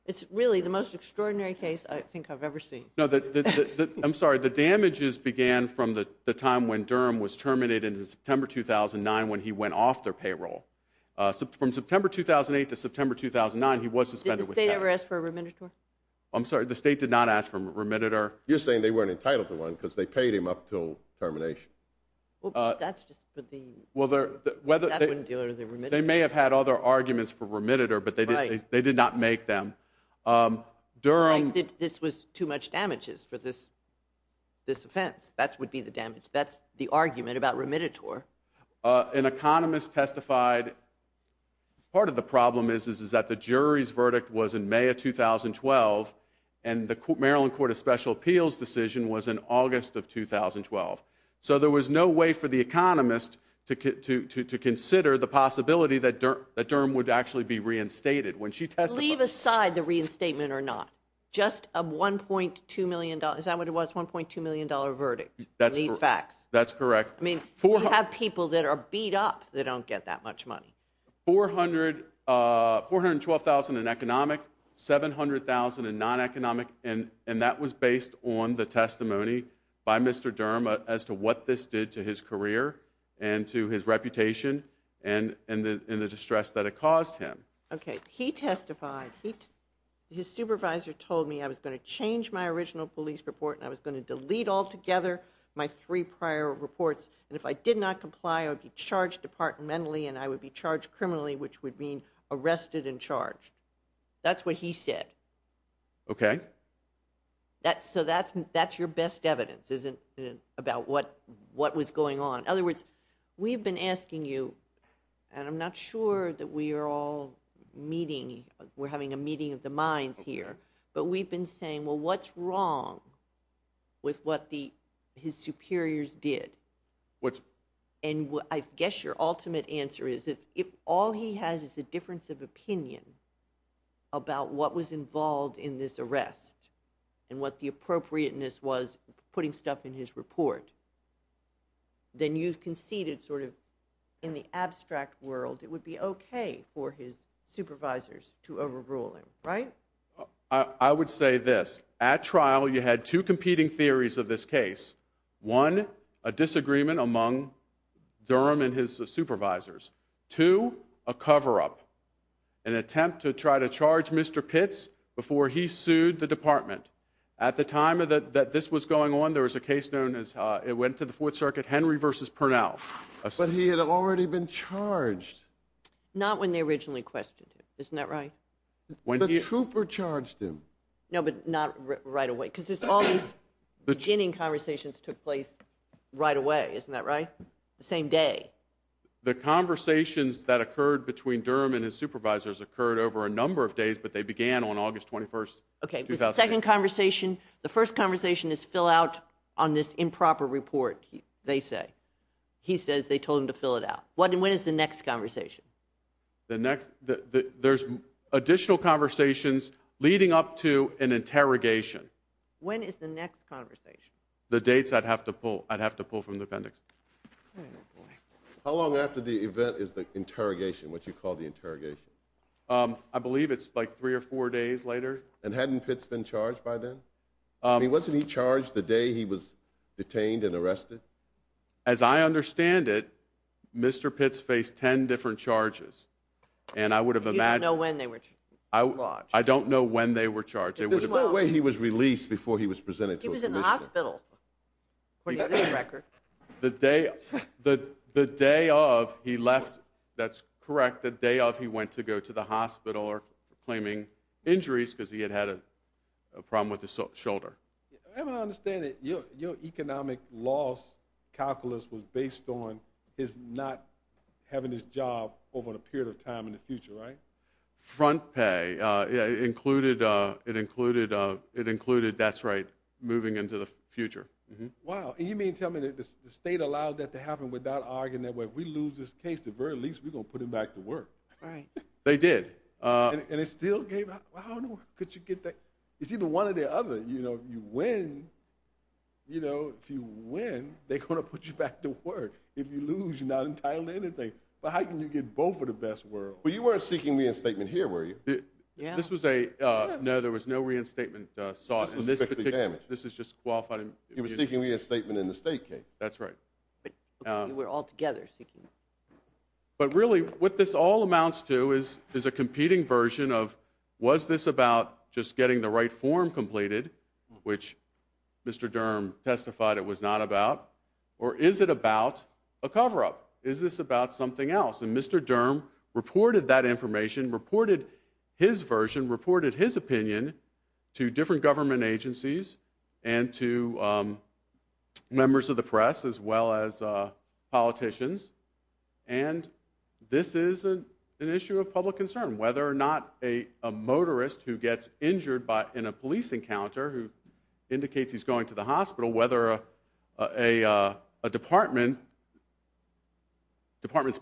It's really the most extraordinary case I think I've ever seen. I'm sorry, the damages began from the time when Durham was terminated in September 2009 when he went off their payroll. From September 2008 to September 2009, he was suspended with pay. Did the state ever ask for a remittitor? I'm sorry, the state did not ask for a remittitor. You're saying they weren't entitled to one because they paid him up until termination. Well, that's just the thing. That wouldn't deal with the remittitor. They may have had other arguments for remittitor, but they did not make them. I think this was too much damages for this offense. That would be the damage. That's the argument about remittitor. An economist testified. Part of the problem is that the jury's verdict was in May of 2012, and the Maryland Court of Special Appeals decision was in August of 2012. So there was no way for the economist to consider the possibility that Durham would actually be reinstated. Leave aside the reinstatement or not. Is that what it was, a $1.2 million verdict in these facts? That's correct. We have people that are beat up that don't get that much money. $412,000 in economic, $700,000 in non-economic, and that was based on the testimony by Mr. Durham as to what this did to his career and to his reputation and the distress that it caused him. He testified. His supervisor told me I was going to change my original police report and I was going to delete altogether my three prior reports, and if I did not comply, I would be charged departmentally and I would be charged criminally, which would mean arrested and charged. That's what he said. Okay. So that's your best evidence about what was going on. In other words, we've been asking you, and I'm not sure that we are all meeting, we're having a meeting of the minds here, but we've been saying, well, what's wrong with what his superiors did? And I guess your ultimate answer is that if all he has is a difference of opinion about what was involved in this arrest and what the appropriateness was putting stuff in his report, then you've conceded sort of in the abstract world it would be okay for his supervisors to overrule him, right? I would say this. At trial, you had two competing theories of this case. One, a disagreement among Durham and his supervisors. Two, a cover-up, an attempt to try to charge Mr. Pitts before he sued the department. At the time that this was going on, there was a case known as, it went to the Fourth Circuit, Henry v. Purnell. But he had already been charged. Not when they originally questioned him, isn't that right? The trooper charged him. No, but not right away, because all these ginning conversations took place right away, isn't that right? The same day. The conversations that occurred between Durham and his supervisors occurred over a number of days, but they began on August 21, 2008. Okay, there's a second conversation. The first conversation is fill out on this improper report, they say. He says they told him to fill it out. When is the next conversation? There's additional conversations leading up to an interrogation. When is the next conversation? The dates I'd have to pull from the appendix. How long after the event is the interrogation, what you call the interrogation? I believe it's like three or four days later. And hadn't Pitts been charged by then? Wasn't he charged the day he was detained and arrested? As I understand it, Mr. Pitts faced 10 different charges. You don't know when they were charged. I don't know when they were charged. There's no way he was released before he was presented to a commission. He was in the hospital, according to this record. The day of he left, that's correct, the day of he went to go to the hospital claiming injuries because he had had a problem with his shoulder. As I understand it, your economic loss calculus was based on his not having his job over a period of time in the future, right? Front pay. It included, that's right, moving into the future. Wow. And you mean to tell me that the state allowed that to happen without arguing that if we lose this case, at the very least, we're going to put him back to work? Right. They did. And it still gave out? How in the world could you get that? It's either one or the other. If you win, they're going to put you back to work. If you lose, you're not entitled to anything. But how can you get both of the best worlds? But you weren't seeking reinstatement here, were you? No, there was no reinstatement source for this particular case. You were seeking reinstatement in the state case. That's right. We were all together seeking. But really, what this all amounts to is a competing version of, was this about just getting the right form completed, which Mr. Durham testified it was not about, or is it about a cover-up? Is this about something else? And Mr. Durham reported that information, reported his version, reported his opinion to different government agencies and to members of the press as well as politicians. And this is an issue of public concern, whether or not a motorist who gets injured in a police encounter, who indicates he's going to the hospital, whether a department's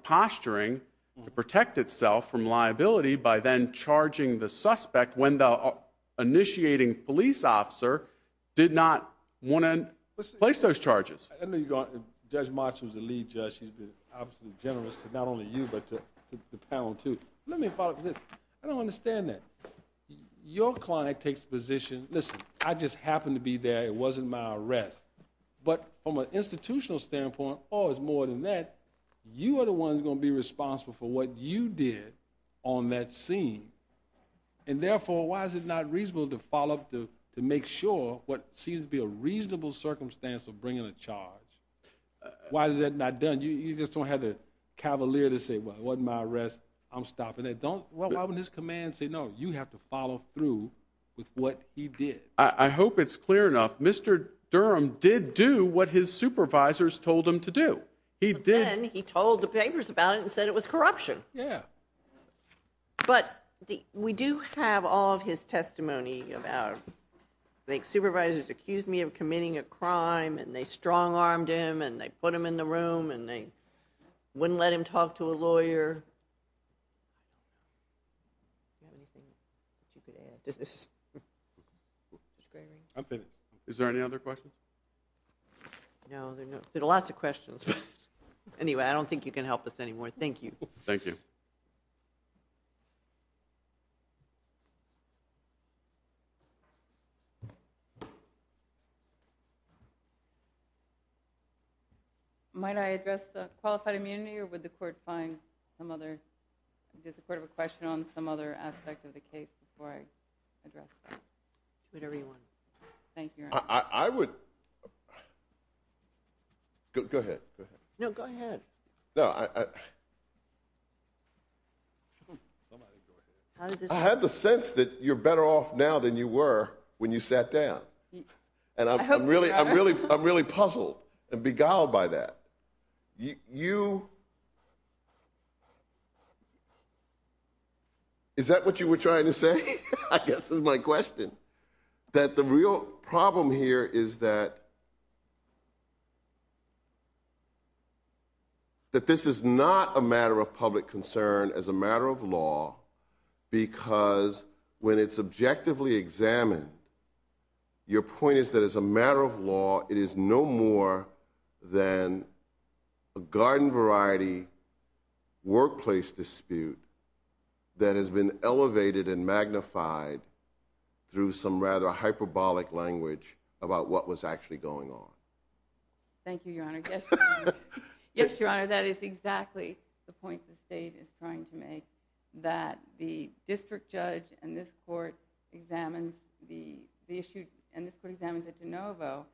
posturing to protect itself from liability by then charging the suspect when the initiating police officer did not want to place those charges. Judge March was the lead judge. She's been absolutely generous to not only you but to the panel too. Let me follow up with this. I don't understand that. Your client takes the position, listen, I just happened to be there. It wasn't my arrest. But from an institutional standpoint, or it's more than that, you are the ones going to be responsible for what you did on that scene. And therefore, why is it not reasonable to follow up to make sure what seems to be a reasonable circumstance of bringing a charge? Why is that not done? You just don't have the cavalier to say, well, it wasn't my arrest, I'm stopping it. Why would his command say, no, you have to follow through with what he did? I hope it's clear enough. Mr. Durham did do what his supervisors told him to do. But then he told the papers about it and said it was corruption. Yeah. But we do have all of his testimony about, I think supervisors accused me of committing a crime and they strong-armed him and they put him in the room and they wouldn't let him talk to a lawyer. Is there any other questions? No. There are lots of questions. Anyway, I don't think you can help us anymore. Thank you. Thank you. Might I address the qualified immunity or would the court find some other, does the court have a question on some other aspect of the case before I address that? Whatever you want. I would... Go ahead. No, go ahead. I had the sense that you're better off now than you were when you sat down. And I'm really puzzled and beguiled by that. You... Is that what you were trying to say? I guess that's my question. That the real problem here is that... That this is not a matter of public concern as a matter of law because when it's objectively examined, your point is that as a matter of law, it is no more than a garden variety workplace dispute that has been elevated and magnified through some rather hyperbolic language about what was actually going on. Thank you, Your Honor. Yes, Your Honor, that is exactly the point the state is trying to make, that the district judge and this court examines the issue, and this court examines it de novo,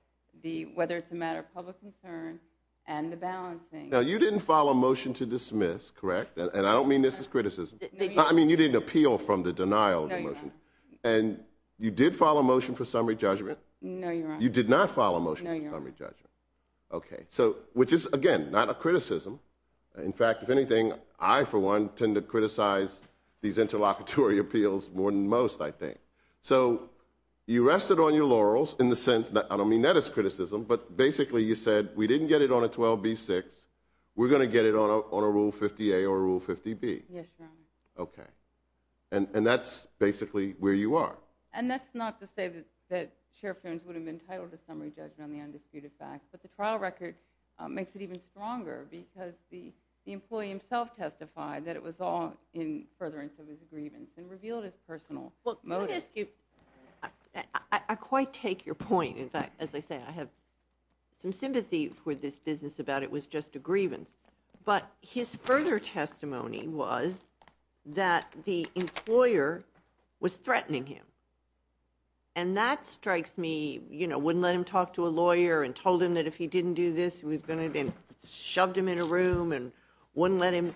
whether it's a matter of public concern and the balancing. Now, you didn't file a motion to dismiss, correct? And I don't mean this as criticism. I mean, you didn't appeal from the denial of the motion. And you did file a motion for summary judgment. You did not file a motion for summary judgment. So, which is, again, not a criticism. In fact, if anything, I, for one, tend to criticize these interlocutory appeals more than most, I think. So you rested on your laurels in the sense that... I don't mean that as criticism, but basically you said we didn't get it on a 12b-6, we're going to get it on a Rule 50-A or a Rule 50-B. Yes, Your Honor. Okay. And that's basically where you are. And that's not to say that Sheriff Jones would have been entitled to summary judgment on the undisputed fact, but the trial record makes it even stronger because the employee himself testified that it was all in furtherance of his grievance and revealed his personal motive. Well, let me ask you, I quite take your point. In fact, as I say, I have some sympathy for this business about it. It was just a grievance. But his further testimony was that the employer was threatening him. And that strikes me... You know, wouldn't let him talk to a lawyer and told him that if he didn't do this, he was going to get shoved him in a room and wouldn't let him...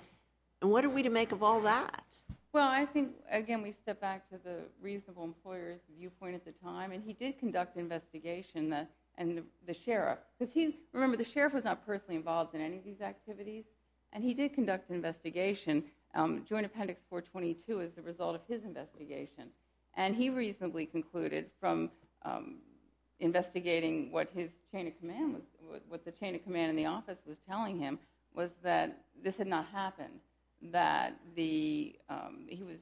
And what are we to make of all that? Well, I think, again, we step back to the reasonable employer's viewpoint at the time, and he did conduct an investigation, and the sheriff. Remember, the sheriff was not personally involved in any of these activities, and he did conduct an investigation. Joint Appendix 422 is the result of his investigation. And he reasonably concluded from investigating what his chain of command was... what the chain of command in the office was telling him was that this had not happened, that the... He was...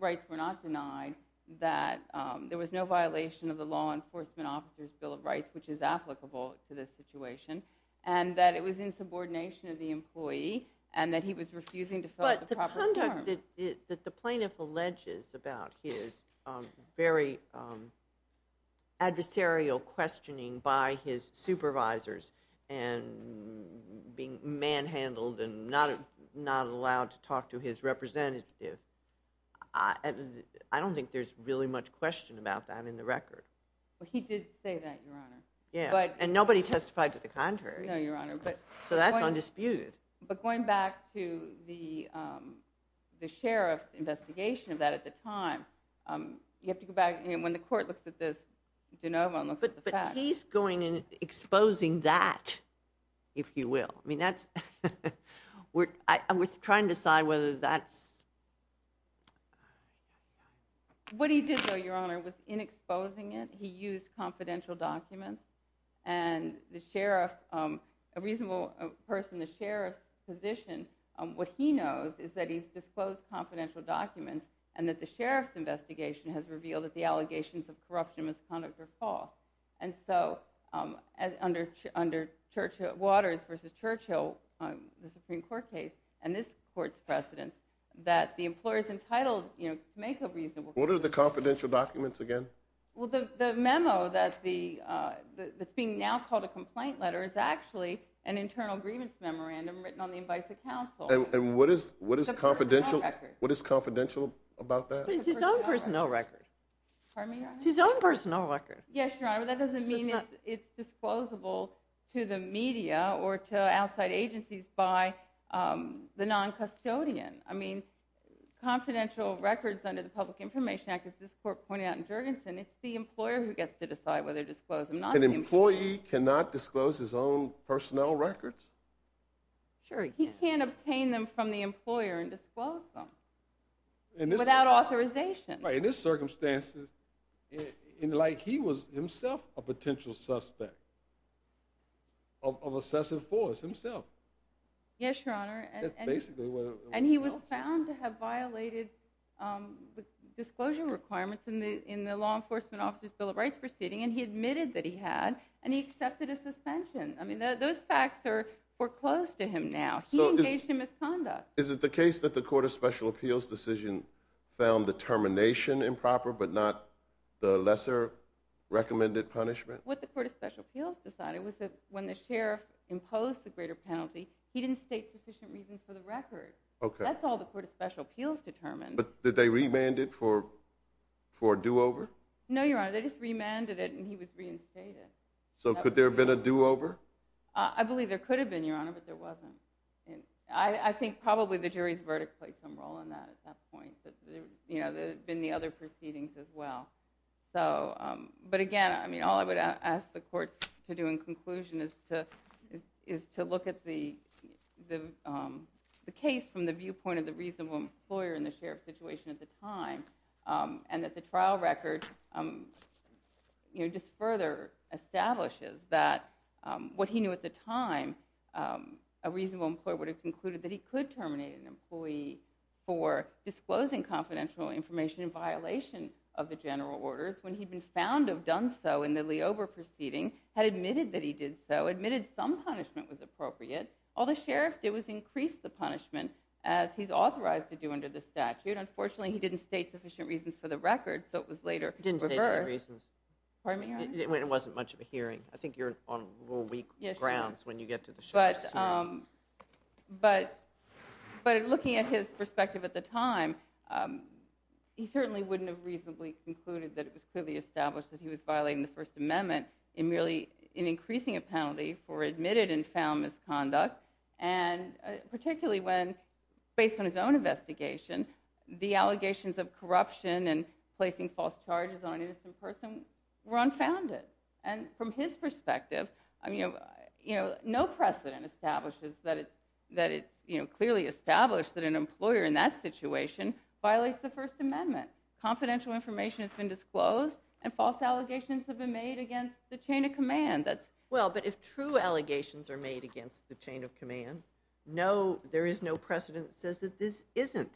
Rights were not denied, that there was no violation of the Law Enforcement Officer's Bill of Rights, which is applicable to this situation, and that it was in subordination of the employee and that he was refusing to fill out the proper form. But the conduct that the plaintiff alleges about his very adversarial questioning by his supervisors and being manhandled and not allowed to talk to his representative, I don't think there's really much question about that in the record. Well, he did say that, Your Honor. Yeah, and nobody testified to the contrary. No, Your Honor, but... So that's undisputed. But going back to the sheriff's investigation of that at the time, you have to go back... When the court looks at this, De Novo looks at the facts. But he's going and exposing that, if you will. I mean, that's... We're trying to decide whether that's... What he did, though, Your Honor, was in exposing it, he used confidential documents, and the sheriff, a reasonable person, the sheriff's position, what he knows is that he's disclosed confidential documents and that the sheriff's investigation has revealed that the allegations of corruption, misconduct, are false. And so, under Waters v. Churchill, the Supreme Court case, and this court's precedent, that the employer's entitled to make a reasonable... What are the confidential documents again? Well, the memo that's being now called a complaint letter is actually an internal grievance memorandum written on the advice of counsel. And what is confidential about that? But it's his own personnel record. Pardon me? It's his own personnel record. Yes, Your Honor, but that doesn't mean it's disclosable to the media or to outside agencies by the non-custodian. I mean, confidential records under the Public Information Act, as this court pointed out in Jurgensen, it's the employer who gets to decide whether to disclose them. An employee cannot disclose his own personnel records? Sure he can. He can't obtain them from the employer and disclose them. Without authorization. Right, in this circumstance, like he was himself a potential suspect of obsessive force himself. Yes, Your Honor. That's basically what it was. And he was found to have violated the disclosure requirements in the Law Enforcement Officer's Bill of Rights proceeding, and he admitted that he had, and he accepted a suspension. I mean, those facts are foreclosed to him now. He engaged in misconduct. Is it the case that the Court of Special Appeals decision found the termination improper but not the lesser recommended punishment? What the Court of Special Appeals decided was that when the sheriff imposed the greater penalty, he didn't state sufficient reasons for the record. That's all the Court of Special Appeals determined. But did they remand it for a do-over? No, Your Honor, they just remanded it, and he was reinstated. So could there have been a do-over? I believe there could have been, Your Honor, but there wasn't. I think probably the jury's verdict played some role in that at that point. There had been the other proceedings as well. But again, all I would ask the Court to do in conclusion is to look at the case from the viewpoint of the reasonable employer in the sheriff's situation at the time and that the trial record just further establishes that what he knew at the time, a reasonable employer would have concluded that he could terminate an employee for disclosing confidential information in violation of the general orders when he'd been found to have done so in the Leober proceeding, had admitted that he did so, admitted some punishment was appropriate. All the sheriff did was increase the punishment, as he's authorized to do under the statute. Unfortunately, he didn't state sufficient reasons for the record, so it was later reversed. Didn't state any reasons. Pardon me, Your Honor? It wasn't much of a hearing. I think you're on a little weak grounds when you get to the sheriff's hearing. But looking at his perspective at the time, he certainly wouldn't have reasonably concluded that it was clearly established that he was violating the First Amendment in merely increasing a penalty for admitted and found misconduct, and particularly when, based on his own investigation, the allegations of corruption and placing false charges on an innocent person were unfounded. And from his perspective, no precedent establishes that it's clearly established that an employer in that situation violates the First Amendment. Confidential information has been disclosed and false allegations have been made against the chain of command. Well, but if true allegations are made against the chain of command, no, there is no precedent that says that this isn't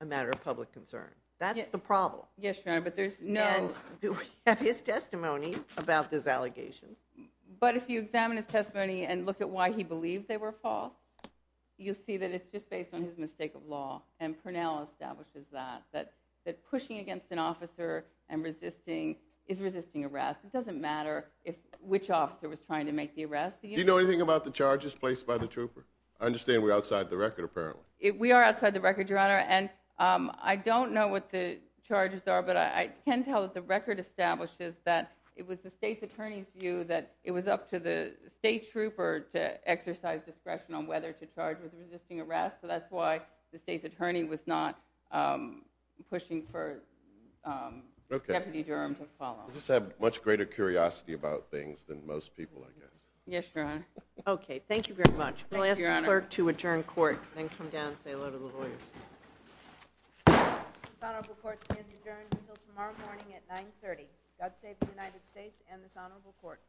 a matter of public concern. That's the problem. Yes, Your Honor, but there's no... Do we have his testimony about those allegations? But if you examine his testimony and look at why he believed they were false, you'll see that it's just based on his mistake of law, and Purnell establishes that, that pushing against an officer and resisting is resisting arrest. It doesn't matter which officer was trying to make the arrest. Do you know anything about the charges placed by the trooper? I understand we're outside the record, apparently. We are outside the record, Your Honor, and I don't know what the charges are, but I can tell that the record establishes that it was the state's attorney's view that it was up to the state trooper on whether to charge with resisting arrest, so that's why the state's attorney was not pushing for Deputy Durham to follow. I just have much greater curiosity about things than most people, I guess. Yes, Your Honor. Okay, thank you very much. We'll ask the clerk to adjourn court, then come down and say hello to the lawyers. This honorable court stands adjourned until tomorrow morning at 9.30. God save the United States and this honorable court.